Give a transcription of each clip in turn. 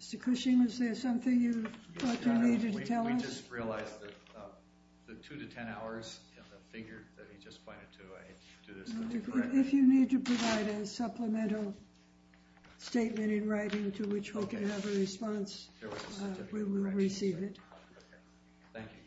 Mr. Cushing, is there something you thought you needed to tell us? We just realized that the two to ten hours in the figure that he just pointed to, I had to do this. If you need to provide a supplemental statement in writing to which Hoke can have a response, we will receive it. Thank you. Thank you.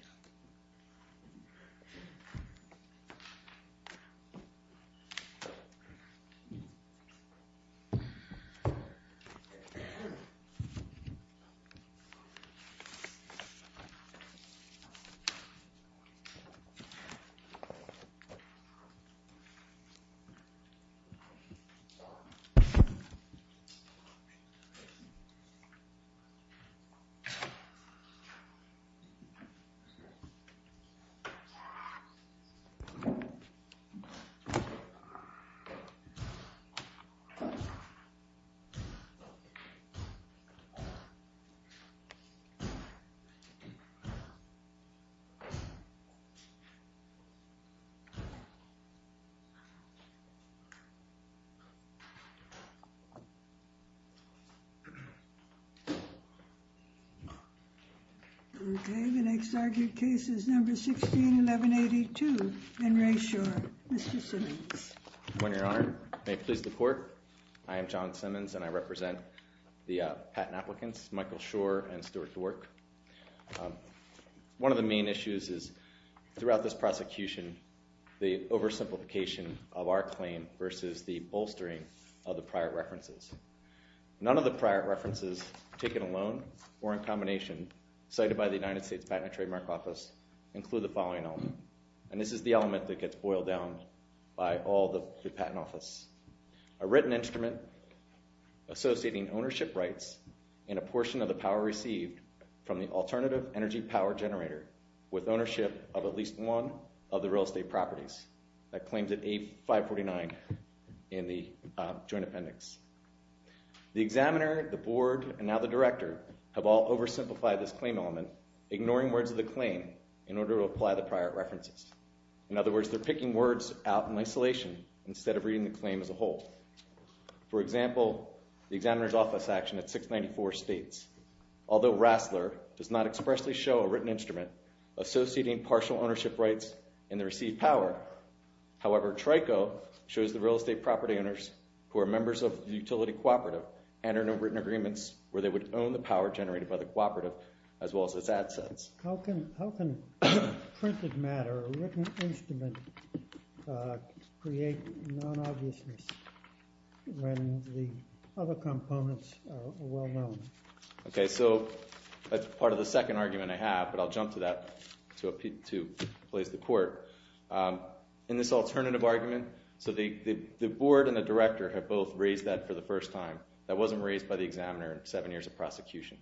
Okay, the next argued case is number 16, 1182. In Re Shore, Mr. Simmons. Good morning, Your Honor. May it please the court, I am John Simmons and I represent the patent applicants, Michael Shore and Stuart Dwork. One of the main issues is, throughout this prosecution, the oversimplification of our claim versus the bolstering of the prior references. None of the prior references, taken alone or in combination, cited by the United States Patent and Trademark Office, include the following element. And this is the element that gets boiled down by all the patent office. A written instrument associating ownership rights and a portion of the power received from the alternative energy power generator with ownership of at least one of the real estate properties. That claims at A549 in the joint appendix. The examiner, the board, and now the director have all oversimplified this claim element, ignoring words of the claim in order to apply the prior references. In other words, they're picking words out in isolation instead of reading the claim as a whole. For example, the examiner's office action at 694 states, although Rassler does not expressly show a written instrument associating partial ownership rights and the received power, however, Trico shows the real estate property owners who are members of the utility cooperative enter into written agreements where they would own the power generated by the cooperative as well as its assets. How can printed matter or written instrument create non-obviousness when the other components are well known? Okay, so that's part of the second argument I have, but I'll jump to that to place the court. In this alternative argument, so the board and the director have both raised that for the first time. That wasn't raised by the examiner in seven years of prosecution.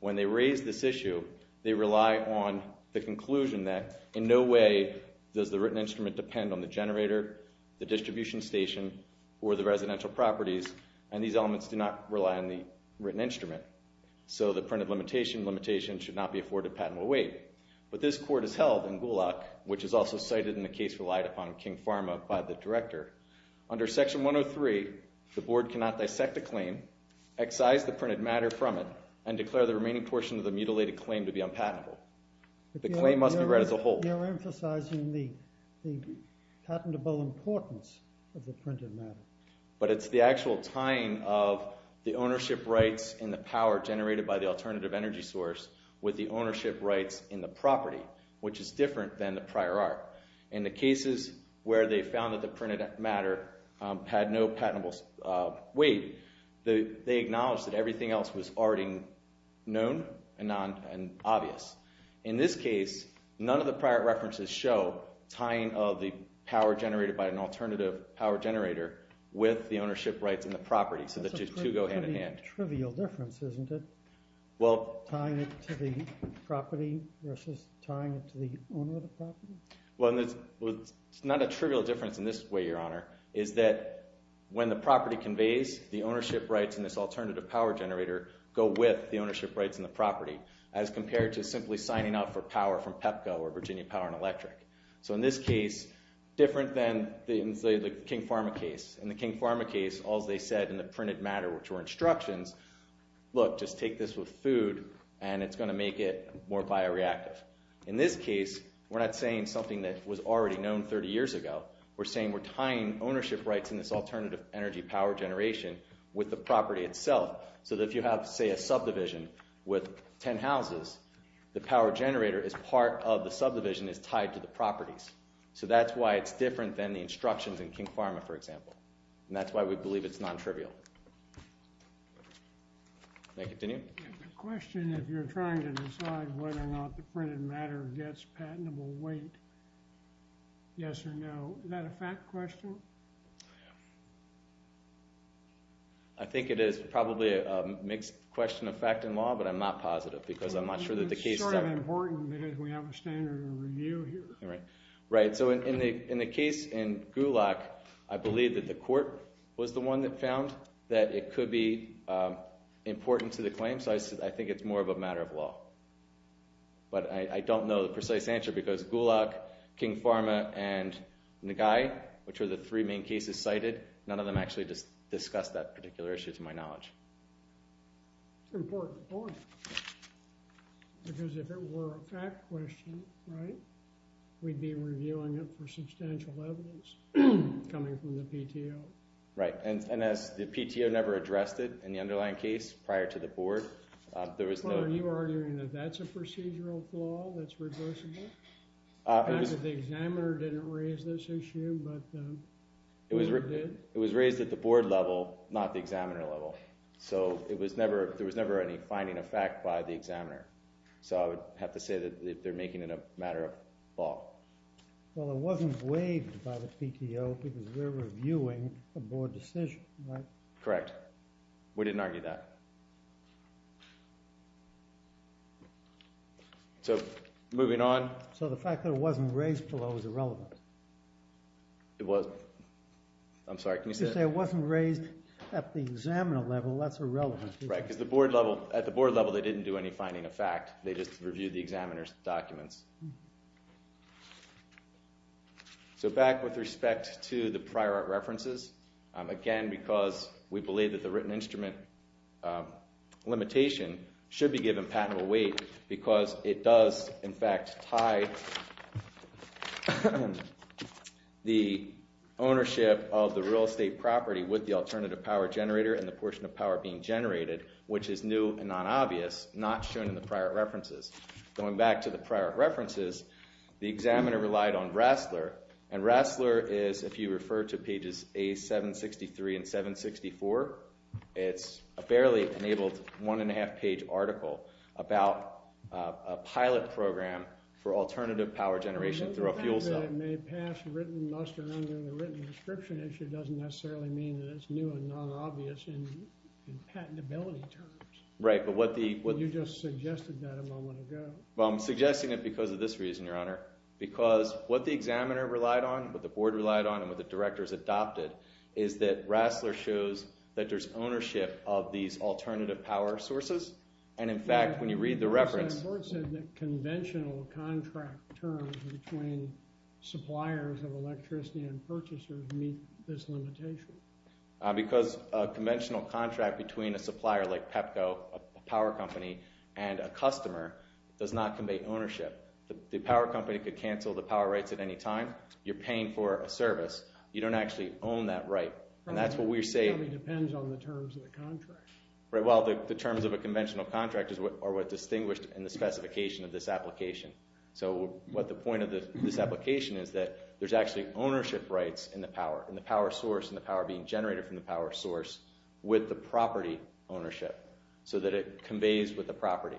When they raised this issue, they rely on the conclusion that in no way does the written instrument depend on the generator, the distribution station, or the residential properties, and these elements do not rely on the written instrument. So the printed limitation should not be afforded a patentable weight. But this court has held in Gulak, which is also cited in the case relied upon King Pharma by the director, under section 103, the board cannot dissect the claim, excise the printed matter from it, and declare the remaining portion of the mutilated claim to be unpatentable. The claim must be read as a whole. You're emphasizing the patentable importance of the printed matter. But it's the actual tying of the ownership rights in the power generated by the alternative energy source with the ownership rights in the property, which is different than the prior art. In the cases where they found that the printed matter had no patentable weight, they acknowledged that everything else was already known and obvious. In this case, none of the prior references show tying of the power generated by an alternative power generator with the ownership rights in the property, so the two go hand in hand. It's quite a trivial difference, isn't it, tying it to the property versus tying it to the owner of the property? Well, it's not a trivial difference in this way, Your Honor, is that when the property conveys the ownership rights in this alternative power generator go with the ownership rights in the property as compared to simply signing off for power from Pepco or Virginia Power and Electric. So in this case, different than the King Pharma case. In the King Pharma case, as they said in the printed matter, which were instructions, look, just take this with food and it's going to make it more bioreactive. In this case, we're not saying something that was already known 30 years ago. We're saying we're tying ownership rights in this alternative energy power generation with the property itself so that if you have, say, a subdivision with 10 houses, the power generator as part of the subdivision is tied to the properties. So that's why it's different than the instructions in King Pharma, for example. And that's why we believe it's non-trivial. May I continue? I have a question. If you're trying to decide whether or not the printed matter gets patentable weight, yes or no, is that a fact question? I think it is probably a mixed question of fact and law, but I'm not positive It's sort of important because we have a standard of review here. Right. So in the case in Gulak, I believe that the court was the one that found that it could be important to the claim, so I think it's more of a matter of law. But I don't know the precise answer because Gulak, King Pharma, and Nagai, which are the three main cases cited, none of them actually discussed that particular issue to my knowledge. It's an important point because if it were a fact question, right, we'd be reviewing it for substantial evidence coming from the PTO. Right, and as the PTO never addressed it in the underlying case prior to the board, there was no Are you arguing that that's a procedural flaw that's reversible? Not that the examiner didn't raise this issue, but the board did. So there was never any finding of fact by the examiner. So I would have to say that they're making it a matter of law. Well, it wasn't waived by the PTO because they're reviewing a board decision, right? Correct. We didn't argue that. So moving on. So the fact that it wasn't raised below is irrelevant? It was. I'm sorry, can you say that? Can you say it wasn't raised at the examiner level? That's irrelevant. Right, because at the board level they didn't do any finding of fact. They just reviewed the examiner's documents. So back with respect to the prior art references. Again, because we believe that the written instrument limitation should be given patentable weight because it does, in fact, tie the ownership of the real estate property with the alternative power generator and the portion of power being generated, which is new and non-obvious, not shown in the prior art references. Going back to the prior art references, the examiner relied on Rassler. And Rassler is, if you refer to pages A763 and 764, it's a barely enabled one and a half page article about a pilot program for alternative power generation through a fuel cell. The fact that it may pass written muster under the written description issue doesn't necessarily mean that it's new and non-obvious in patentability terms. Right, but what the... You just suggested that a moment ago. Well, I'm suggesting it because of this reason, Your Honor. Because what the examiner relied on, what the board relied on, and what the directors adopted is that Rassler shows that there's ownership of these alternative power sources. And, in fact, when you read the reference... But the board said that conventional contract terms between suppliers of electricity and purchasers meet this limitation. Because a conventional contract between a supplier like Pepco, a power company, and a customer does not convey ownership. The power company could cancel the power rights at any time. You're paying for a service. You don't actually own that right. And that's what we're saying... Probably depends on the terms of the contract. Right, well, the terms of a conventional contract are what's distinguished in the specification of this application. So what the point of this application is that there's actually ownership rights in the power source and the power being generated from the power source with the property ownership so that it conveys with the property.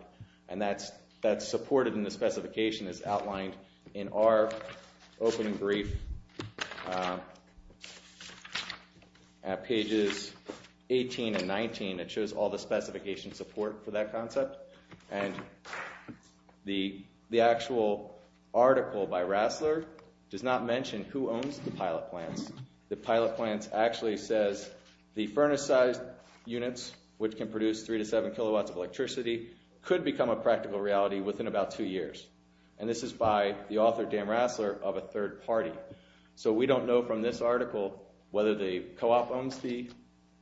And that's supported in the specification as outlined in our opening brief at pages 18 and 19. It shows all the specification support for that concept. And the actual article by Rassler does not mention who owns the pilot plants. The pilot plants actually says the furnace-sized units, which can produce 3 to 7 kilowatts of electricity, could become a practical reality within about two years. And this is by the author, Dan Rassler, of a third party. So we don't know from this article whether the co-op owns the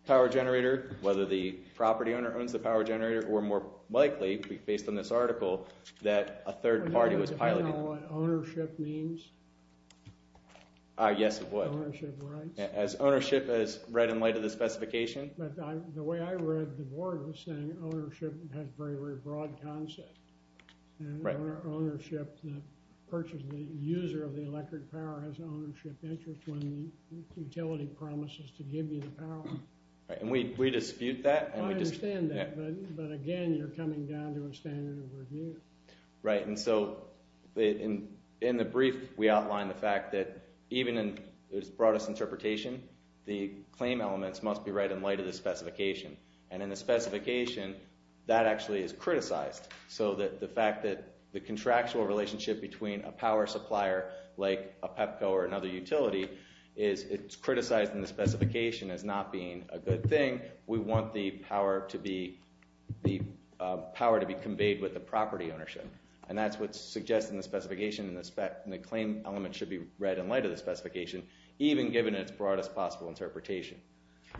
power generator, whether the property owner owns the power generator, or more likely, based on this article, that a third party was piloting. Do you know what ownership means? Yes, it would. Ownership rights. As ownership, as read in light of the specification. But the way I read the board was saying ownership has a very, very broad concept. And ownership, the user of the electric power has an ownership interest when the utility promises to give you the power. And we dispute that. I understand that. But again, you're coming down to a standard of review. Right. And so in the brief, we outline the fact that even in its broadest interpretation, the claim elements must be read in light of the specification. And in the specification, that actually is criticized. So the fact that the contractual relationship between a power supplier like a Pepco or another utility is it's criticized in the specification as not being a good thing. Again, we want the power to be conveyed with the property ownership. And that's what's suggested in the specification. And the claim element should be read in light of the specification, even given its broadest possible interpretation.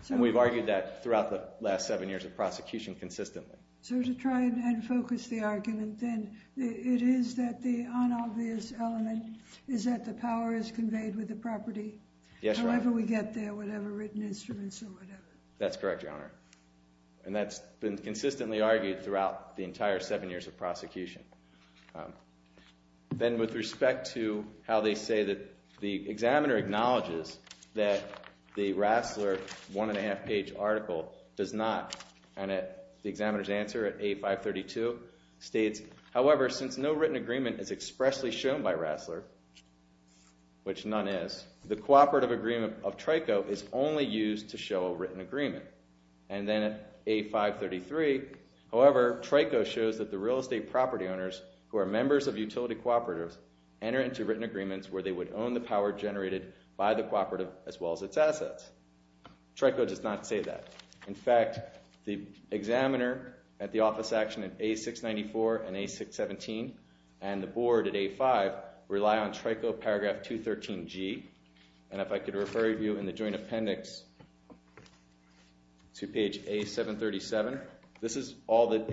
And we've argued that throughout the last seven years of prosecution consistently. So to try and focus the argument, then, it is that the unobvious element is that the power is conveyed with the property. Yes, Your Honor. However we get there, whatever written instruments or whatever. That's correct, Your Honor. And that's been consistently argued throughout the entire seven years of prosecution. Then with respect to how they say that the examiner acknowledges that the Rassler one and a half page article does not, and the examiner's answer at A532 states, however, since no written agreement is expressly shown by Rassler, which none is, the cooperative agreement of Trico is only used to show a written agreement. And then at A533, however, Trico shows that the real estate property owners who are members of utility cooperatives enter into written agreements where they would own the power generated by the cooperative as well as its assets. Trico does not say that. In fact, the examiner at the office action at A694 and A617 and the board at A5 rely on Trico paragraph 213G. And if I could refer you in the joint appendix to page A737, this is all that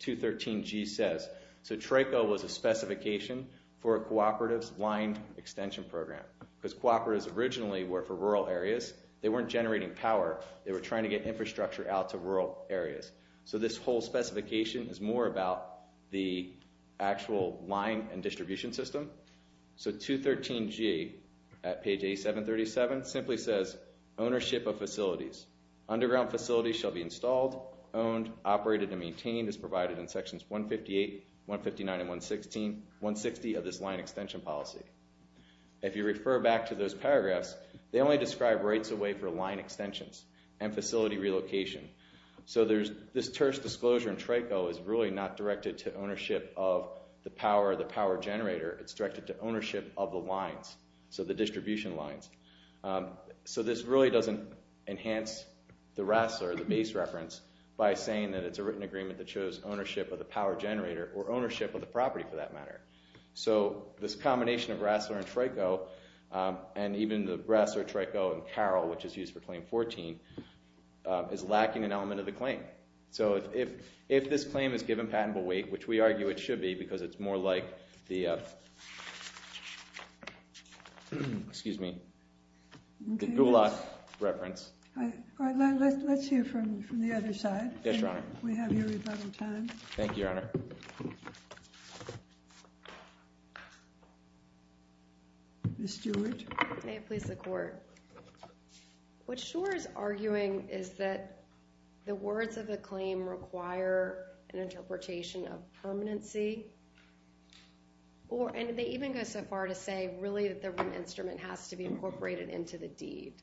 213G says. So Trico was a specification for a cooperative's line extension program because cooperatives originally were for rural areas. They weren't generating power. They were trying to get infrastructure out to rural areas. So this whole specification is more about the actual line and distribution system. So 213G at page A737 simply says, ownership of facilities. Underground facilities shall be installed, owned, operated, and maintained as provided in sections 158, 159, and 160 of this line extension policy. If you refer back to those paragraphs, they only describe rates away for line extensions and facility relocation. So this terse disclosure in Trico is really not directed to ownership of the power generator. It's directed to ownership of the lines, so the distribution lines. So this really doesn't enhance the rest or the base reference by saying that it's a written agreement that shows ownership of the power generator or ownership of the property for that matter. So this combination of Rassler and Trico and even the Rassler, Trico, and Carroll, which is used for Claim 14, is lacking an element of the claim. So if this claim is given patentable weight, which we argue it should be because it's more like the Gulag reference. All right, let's hear from the other side. Yes, Your Honor. Thank you, Your Honor. Ms. Stewart. May it please the Court. What Schor is arguing is that the words of the claim require an interpretation of permanency, and they even go so far to say really that the instrument has to be incorporated into the deed.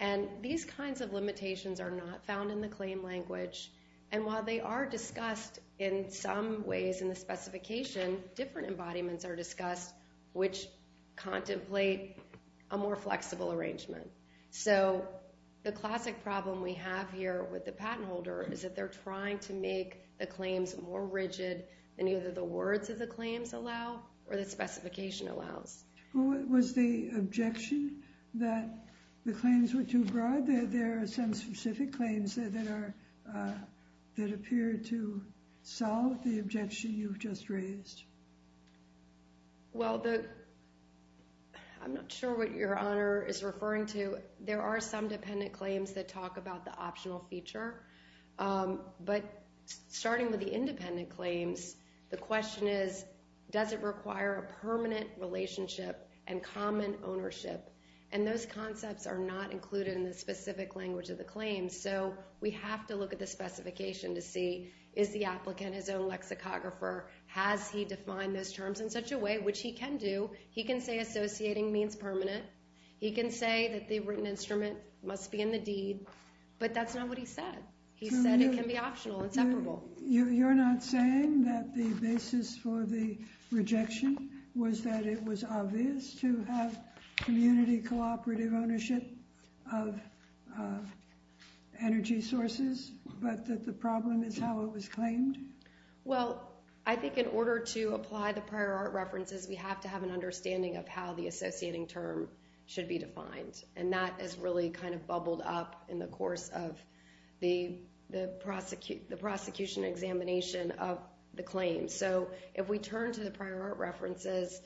And these kinds of limitations are not found in the claim language, and while they are discussed in some ways in the specification, different embodiments are discussed which contemplate a more flexible arrangement. So the classic problem we have here with the patent holder is that they're trying to make the claims more rigid than either the words of the claims allow or the specification allows. Was the objection that the claims were too broad? Are there some specific claims that appear to solve the objection you've just raised? Well, I'm not sure what Your Honor is referring to. There are some dependent claims that talk about the optional feature. But starting with the independent claims, the question is, does it require a permanent relationship and common ownership? And those concepts are not included in the specific language of the claim, so we have to look at the specification to see, is the applicant his own lexicographer? Has he defined those terms in such a way, which he can do. He can say associating means permanent. He can say that the written instrument must be in the deed, but that's not what he said. He said it can be optional, inseparable. You're not saying that the basis for the rejection was that it was obvious to have community cooperative ownership of energy sources, but that the problem is how it was claimed? Well, I think in order to apply the prior art references, we have to have an understanding of how the associating term should be defined. And that is really kind of bubbled up in the course of the prosecution examination of the claim. So if we turn to the prior art references,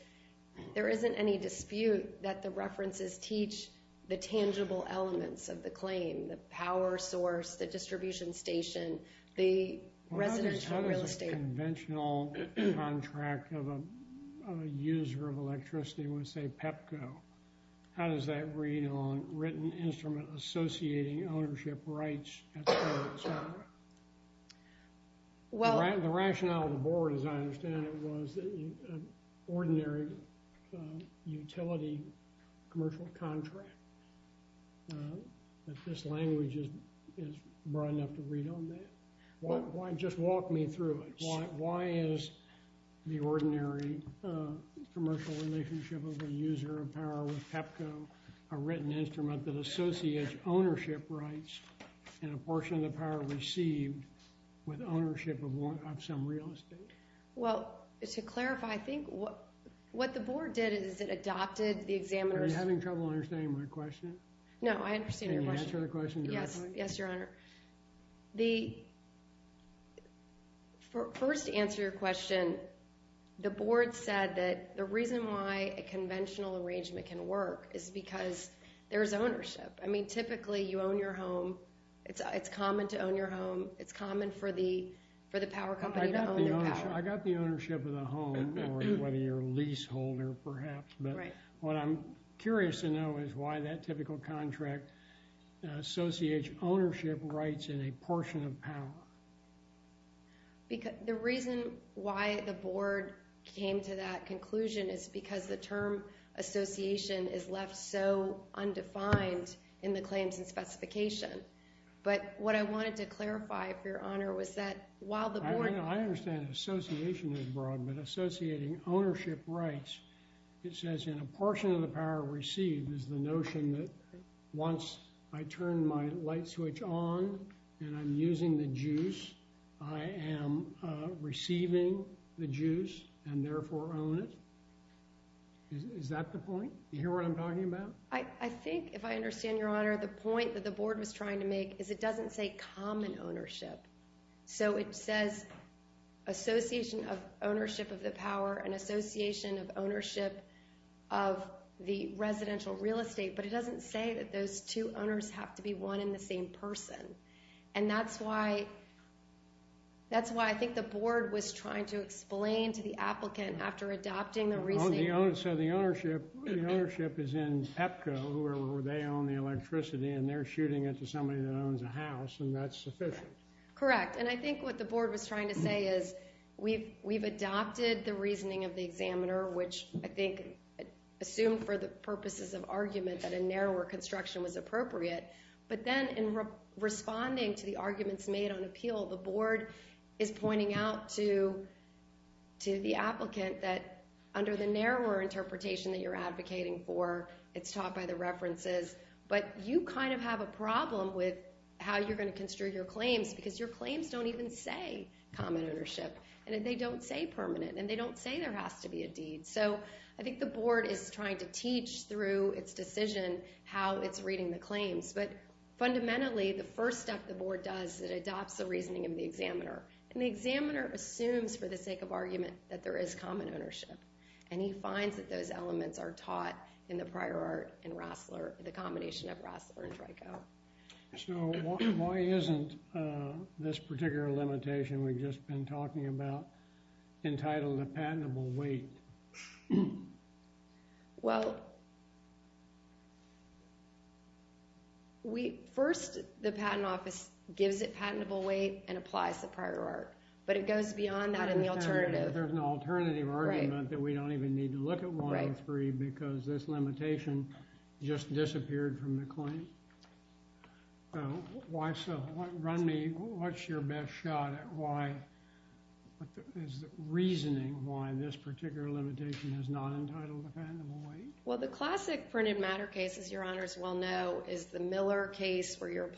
there isn't any dispute that the references teach the tangible elements of the claim, the power source, the distribution station, the residential real estate. Well, how does a conventional contract of a user of electricity, let's say PEPCO, how does that read on written instrument associating ownership rights, et cetera, et cetera? The rationale of the board, as I understand it, was an ordinary utility commercial contract. This language is broad enough to read on that. Just walk me through it. Why is the ordinary commercial relationship of a user of power with PEPCO a written instrument that associates ownership rights and a portion of the power received with ownership of some real estate? Well, to clarify, I think what the board did is it adopted the examiner's— Are you having trouble understanding my question? No, I understand your question. Can you answer the question directly? Yes, Your Honor. First, to answer your question, the board said that the reason why a conventional arrangement can work is because there's ownership. I mean, typically, you own your home. It's common to own your home. It's common for the power company to own their power. I got the ownership of the home or whether you're a leaseholder, perhaps. But what I'm curious to know is why that typical contract associates ownership rights and a portion of power. The reason why the board came to that conclusion is because the term association is left so undefined in the claims and specification. But what I wanted to clarify, for your honor, was that while the board— It says in a portion of the power received is the notion that once I turn my light switch on and I'm using the juice, I am receiving the juice and therefore own it. Is that the point? You hear what I'm talking about? I think, if I understand your honor, the point that the board was trying to make is it doesn't say common ownership. So it says association of ownership of the power and association of ownership of the residential real estate, but it doesn't say that those two owners have to be one and the same person. And that's why I think the board was trying to explain to the applicant after adopting the reasoning— So the ownership is in EPCO, where they own the electricity, and they're shooting it to somebody that owns a house, and that's sufficient. Correct. And I think what the board was trying to say is we've adopted the reasoning of the examiner, which I think assumed for the purposes of argument that a narrower construction was appropriate. But then in responding to the arguments made on appeal, the board is pointing out to the applicant that under the narrower interpretation that you're advocating for, it's taught by the references. But you kind of have a problem with how you're going to construe your claims, because your claims don't even say common ownership. And they don't say permanent, and they don't say there has to be a deed. So I think the board is trying to teach through its decision how it's reading the claims. But fundamentally, the first step the board does, it adopts the reasoning of the examiner. And the examiner assumes for the sake of argument that there is common ownership. And he finds that those elements are taught in the prior art and the combination of Rassler and Draco. So why isn't this particular limitation we've just been talking about entitled a patentable weight? Well, first the patent office gives it patentable weight and applies the prior art. But it goes beyond that in the alternative. But there's an alternative argument that we don't even need to look at one or three because this limitation just disappeared from the claim. So why so? What's your best shot at reasoning why this particular limitation is not entitled a patentable weight? Well, the classic printed matter case, as your honors well know, is the Miller case where you're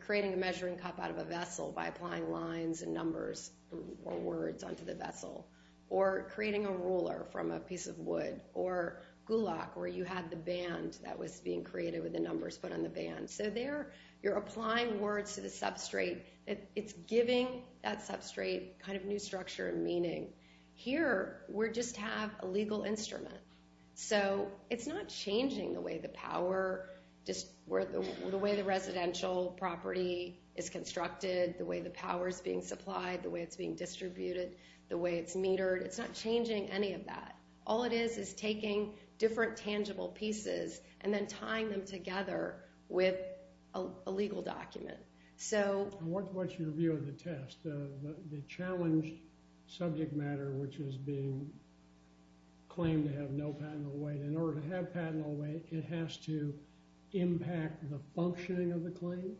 creating a measuring cup out of a vessel by applying lines and numbers or words onto the vessel, or creating a ruler from a piece of wood, or Gulak where you had the band that was being created with the numbers put on the band. So there you're applying words to the substrate. It's giving that substrate kind of new structure and meaning. Here we just have a legal instrument. So it's not changing the way the residential property is constructed, the way the power is being supplied, the way it's being distributed, the way it's metered. It's not changing any of that. All it is is taking different tangible pieces and then tying them together with a legal document. What's your view of the test? The challenged subject matter, which is being claimed to have no patentable weight. In order to have patentable weight, it has to impact the functioning of the claim?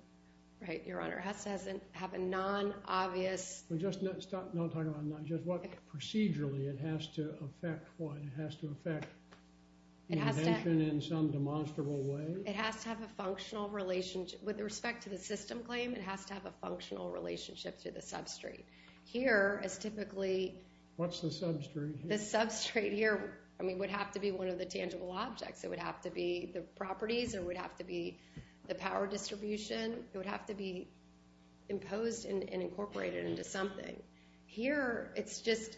Right, your honor. It has to have a non-obvious. Just not talk about non-obvious. Procedurally, it has to affect what? It has to affect the invention in some demonstrable way? It has to have a functional relationship. With respect to the system claim, it has to have a functional relationship to the substrate. Here is typically... What's the substrate? The substrate here would have to be one of the tangible objects. It would have to be the properties. It would have to be the power distribution. It would have to be imposed and incorporated into something. Here, it's just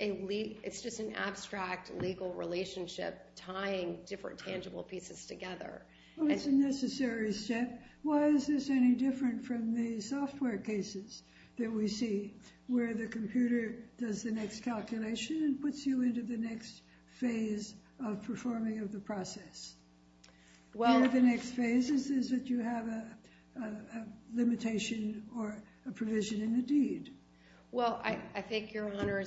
an abstract legal relationship tying different tangible pieces together. It's a necessary step. Why is this any different from the software cases that we see, where the computer does the next calculation and puts you into the next phase of performing of the process? One of the next phases is that you have a limitation or a provision in the deed. I think, your honor,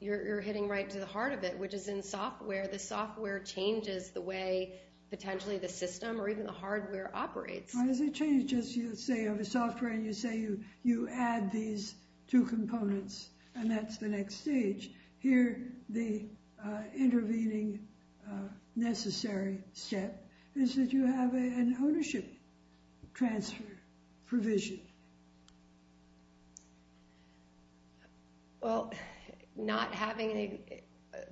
you're hitting right to the heart of it, which is in software. The software changes the way, potentially, the system or even the hardware operates. Why does it change? You say you have a software, and you say you add these two components, and that's the next stage. Here, the intervening necessary step is that you have an ownership transfer provision. Well, not having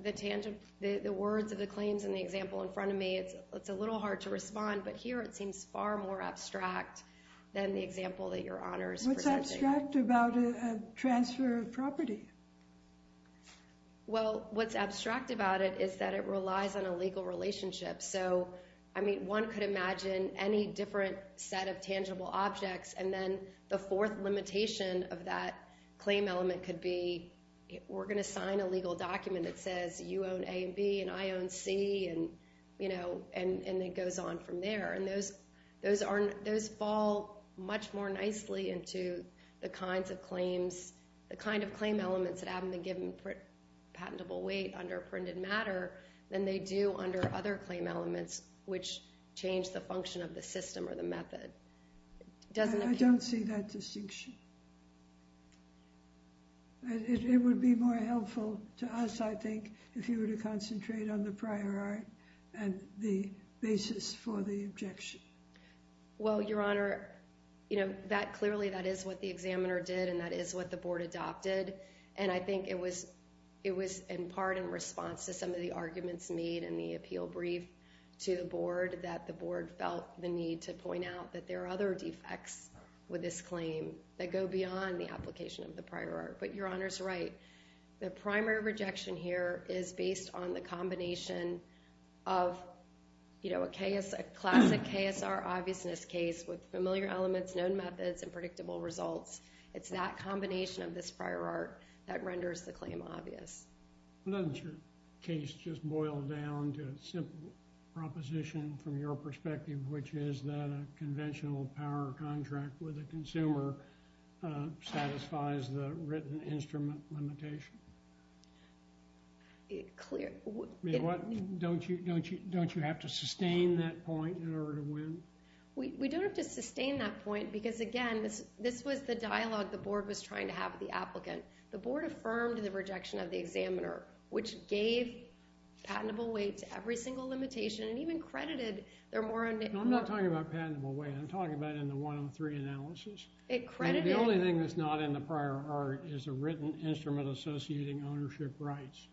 the words of the claims in the example in front of me, it's a little hard to respond. But here, it seems far more abstract than the example that your honor is presenting. What's abstract about a transfer of property? Well, what's abstract about it is that it relies on a legal relationship. One could imagine any different set of tangible objects, and then the fourth limitation of that claim element could be, we're going to sign a legal document that says you own A and B, and I own C, and it goes on from there. Those fall much more nicely into the kinds of claims, the kind of claim elements that haven't been given patentable weight under printed matter than they do under other claim elements which change the function of the system or the method. I don't see that distinction. It would be more helpful to us, I think, if you were to concentrate on the prior art and the basis for the objection. Well, your honor, clearly that is what the examiner did, and that is what the board adopted, and I think it was in part in response to some of the arguments made in the appeal brief to the board that the board felt the need to point out that there are other defects with this claim that go beyond the application of the prior art. But your honor's right. The primary rejection here is based on the combination of a classic KSR obviousness case with familiar elements, known methods, and predictable results. It's that combination of this prior art that renders the claim obvious. Doesn't your case just boil down to a simple proposition from your perspective, which is that a conventional power contract with a consumer satisfies the written instrument limitation? Don't you have to sustain that point in order to win? We don't have to sustain that point because, again, this was the dialogue the board was trying to have with the applicant. The board affirmed the rejection of the examiner, which gave patentable weight to every single limitation and even credited their more- I'm not talking about patentable weight. I'm talking about in the 103 analysis. The only thing that's not in the prior art is a written instrument associating ownership rights.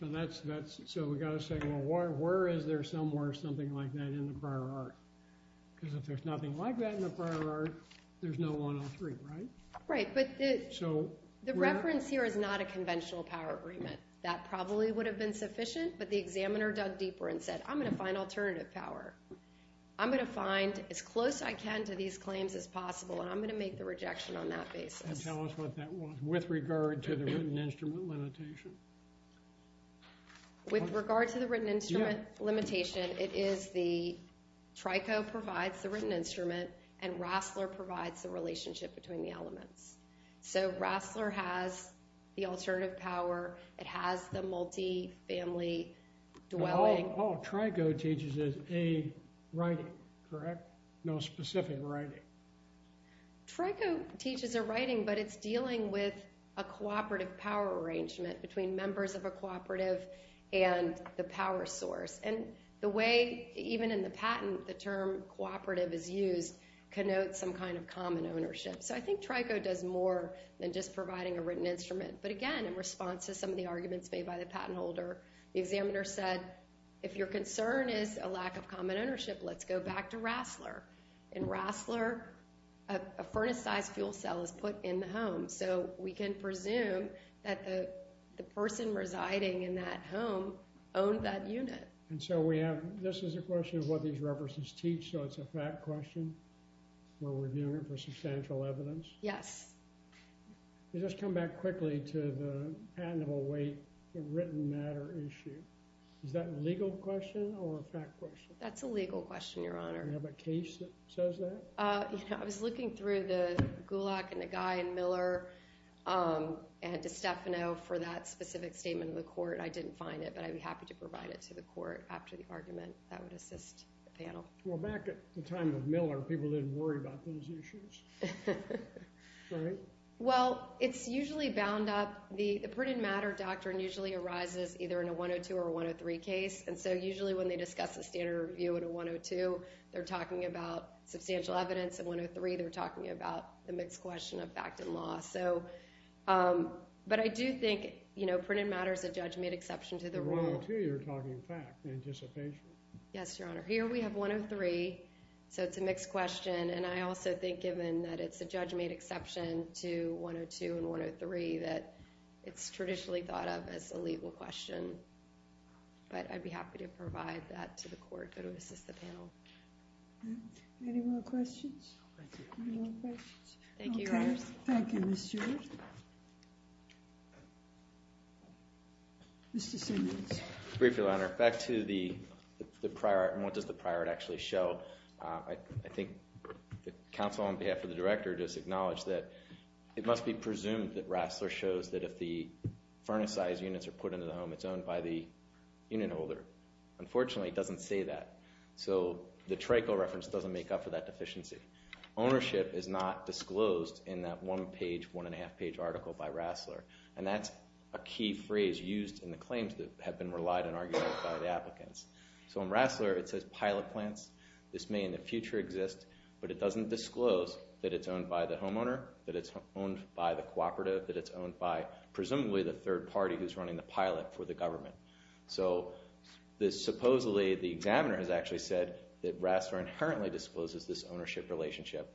So we've got to say, well, where is there somewhere something like that in the prior art? Because if there's nothing like that in the prior art, there's no 103, right? Right, but the reference here is not a conventional power agreement. That probably would have been sufficient, but the examiner dug deeper and said, I'm going to find alternative power. I'm going to find as close I can to these claims as possible, and I'm going to make the rejection on that basis. And tell us what that was with regard to the written instrument limitation. With regard to the written instrument limitation, it is the- Trico provides the written instrument, and Rassler provides the relationship between the elements. So Rassler has the alternative power. It has the multifamily dwelling. Oh, Trico teaches a writing, correct? No specific writing. Trico teaches a writing, but it's dealing with a cooperative power arrangement between members of a cooperative and the power source. And the way, even in the patent, the term cooperative is used, connotes some kind of common ownership. So I think Trico does more than just providing a written instrument. But again, in response to some of the arguments made by the patent holder, the examiner said, if your concern is a lack of common ownership, let's go back to Rassler. In Rassler, a furnace-sized fuel cell is put in the home, so we can presume that the person residing in that home owned that unit. And so we have- this is a question of what these references teach, so it's a fact question where we're doing it for substantial evidence? Yes. Let's just come back quickly to the patentable weight, the written matter issue. Is that a legal question or a fact question? That's a legal question, Your Honor. Do you have a case that says that? I was looking through the Gulak and the Guy and Miller and DiStefano for that specific statement of the court. I didn't find it, but I'd be happy to provide it to the court after the argument that would assist the panel. Well, back at the time of Miller, people didn't worry about those issues, right? Well, it's usually bound up- the printed matter doctrine usually arises either in a 102 or a 103 case, and so usually when they discuss a standard review in a 102, they're talking about substantial evidence. In a 103, they're talking about the mixed question of fact and law. But I do think printed matter is a judge-made exception to the rule. In a 102, you're talking fact and anticipation. Yes, Your Honor. Here we have 103, so it's a mixed question, and I also think given that it's a judge-made exception to 102 and 103 that it's traditionally thought of as a legal question. But I'd be happy to provide that to the court that would assist the panel. Any more questions? Thank you. Any more questions? Thank you, Your Honor. Thank you, Ms. Stewart. Mr. Simmons. Briefly, Your Honor. Back to the prior- and what does the prior actually show? I think the counsel on behalf of the director just acknowledged that it must be presumed that Rassler shows that if the furnacized units are put into the home, it's owned by the union holder. Unfortunately, it doesn't say that. So the TRACO reference doesn't make up for that deficiency. Ownership is not disclosed in that one-page, one-and-a-half-page article by Rassler, and that's a key phrase used in the claims that have been relied on by the applicants. So in Rassler, it says pilot plants. This may in the future exist, but it doesn't disclose that it's owned by the homeowner, that it's owned by the cooperative, that it's owned by presumably the third party who's running the pilot for the government. So supposedly the examiner has actually said that Rassler inherently discloses this ownership relationship,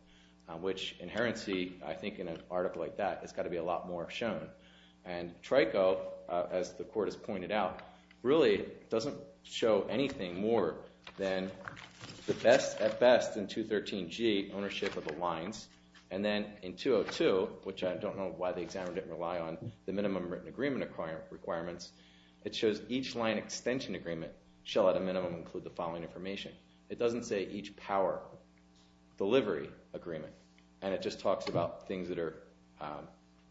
which inherency, I think in an article like that, has got to be a lot more shown. And TRACO, as the court has pointed out, really doesn't show anything more than the best at best in 213G, ownership of the lines. And then in 202, which I don't know why the examiner didn't rely on the minimum written agreement requirements, it shows each line extension agreement shall at a minimum include the following information. It doesn't say each power delivery agreement, and it just talks about things that are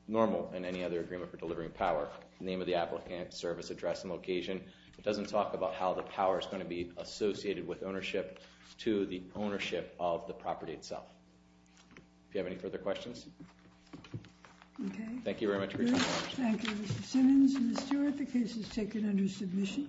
normal in any other agreement for delivering power, name of the applicant, service address and location. It doesn't talk about how the power is going to be associated with ownership to the ownership of the property itself. Do you have any further questions? Okay. Thank you very much for your time. Thank you, Mr. Simmons. Ms. Stewart, the case is taken under submission.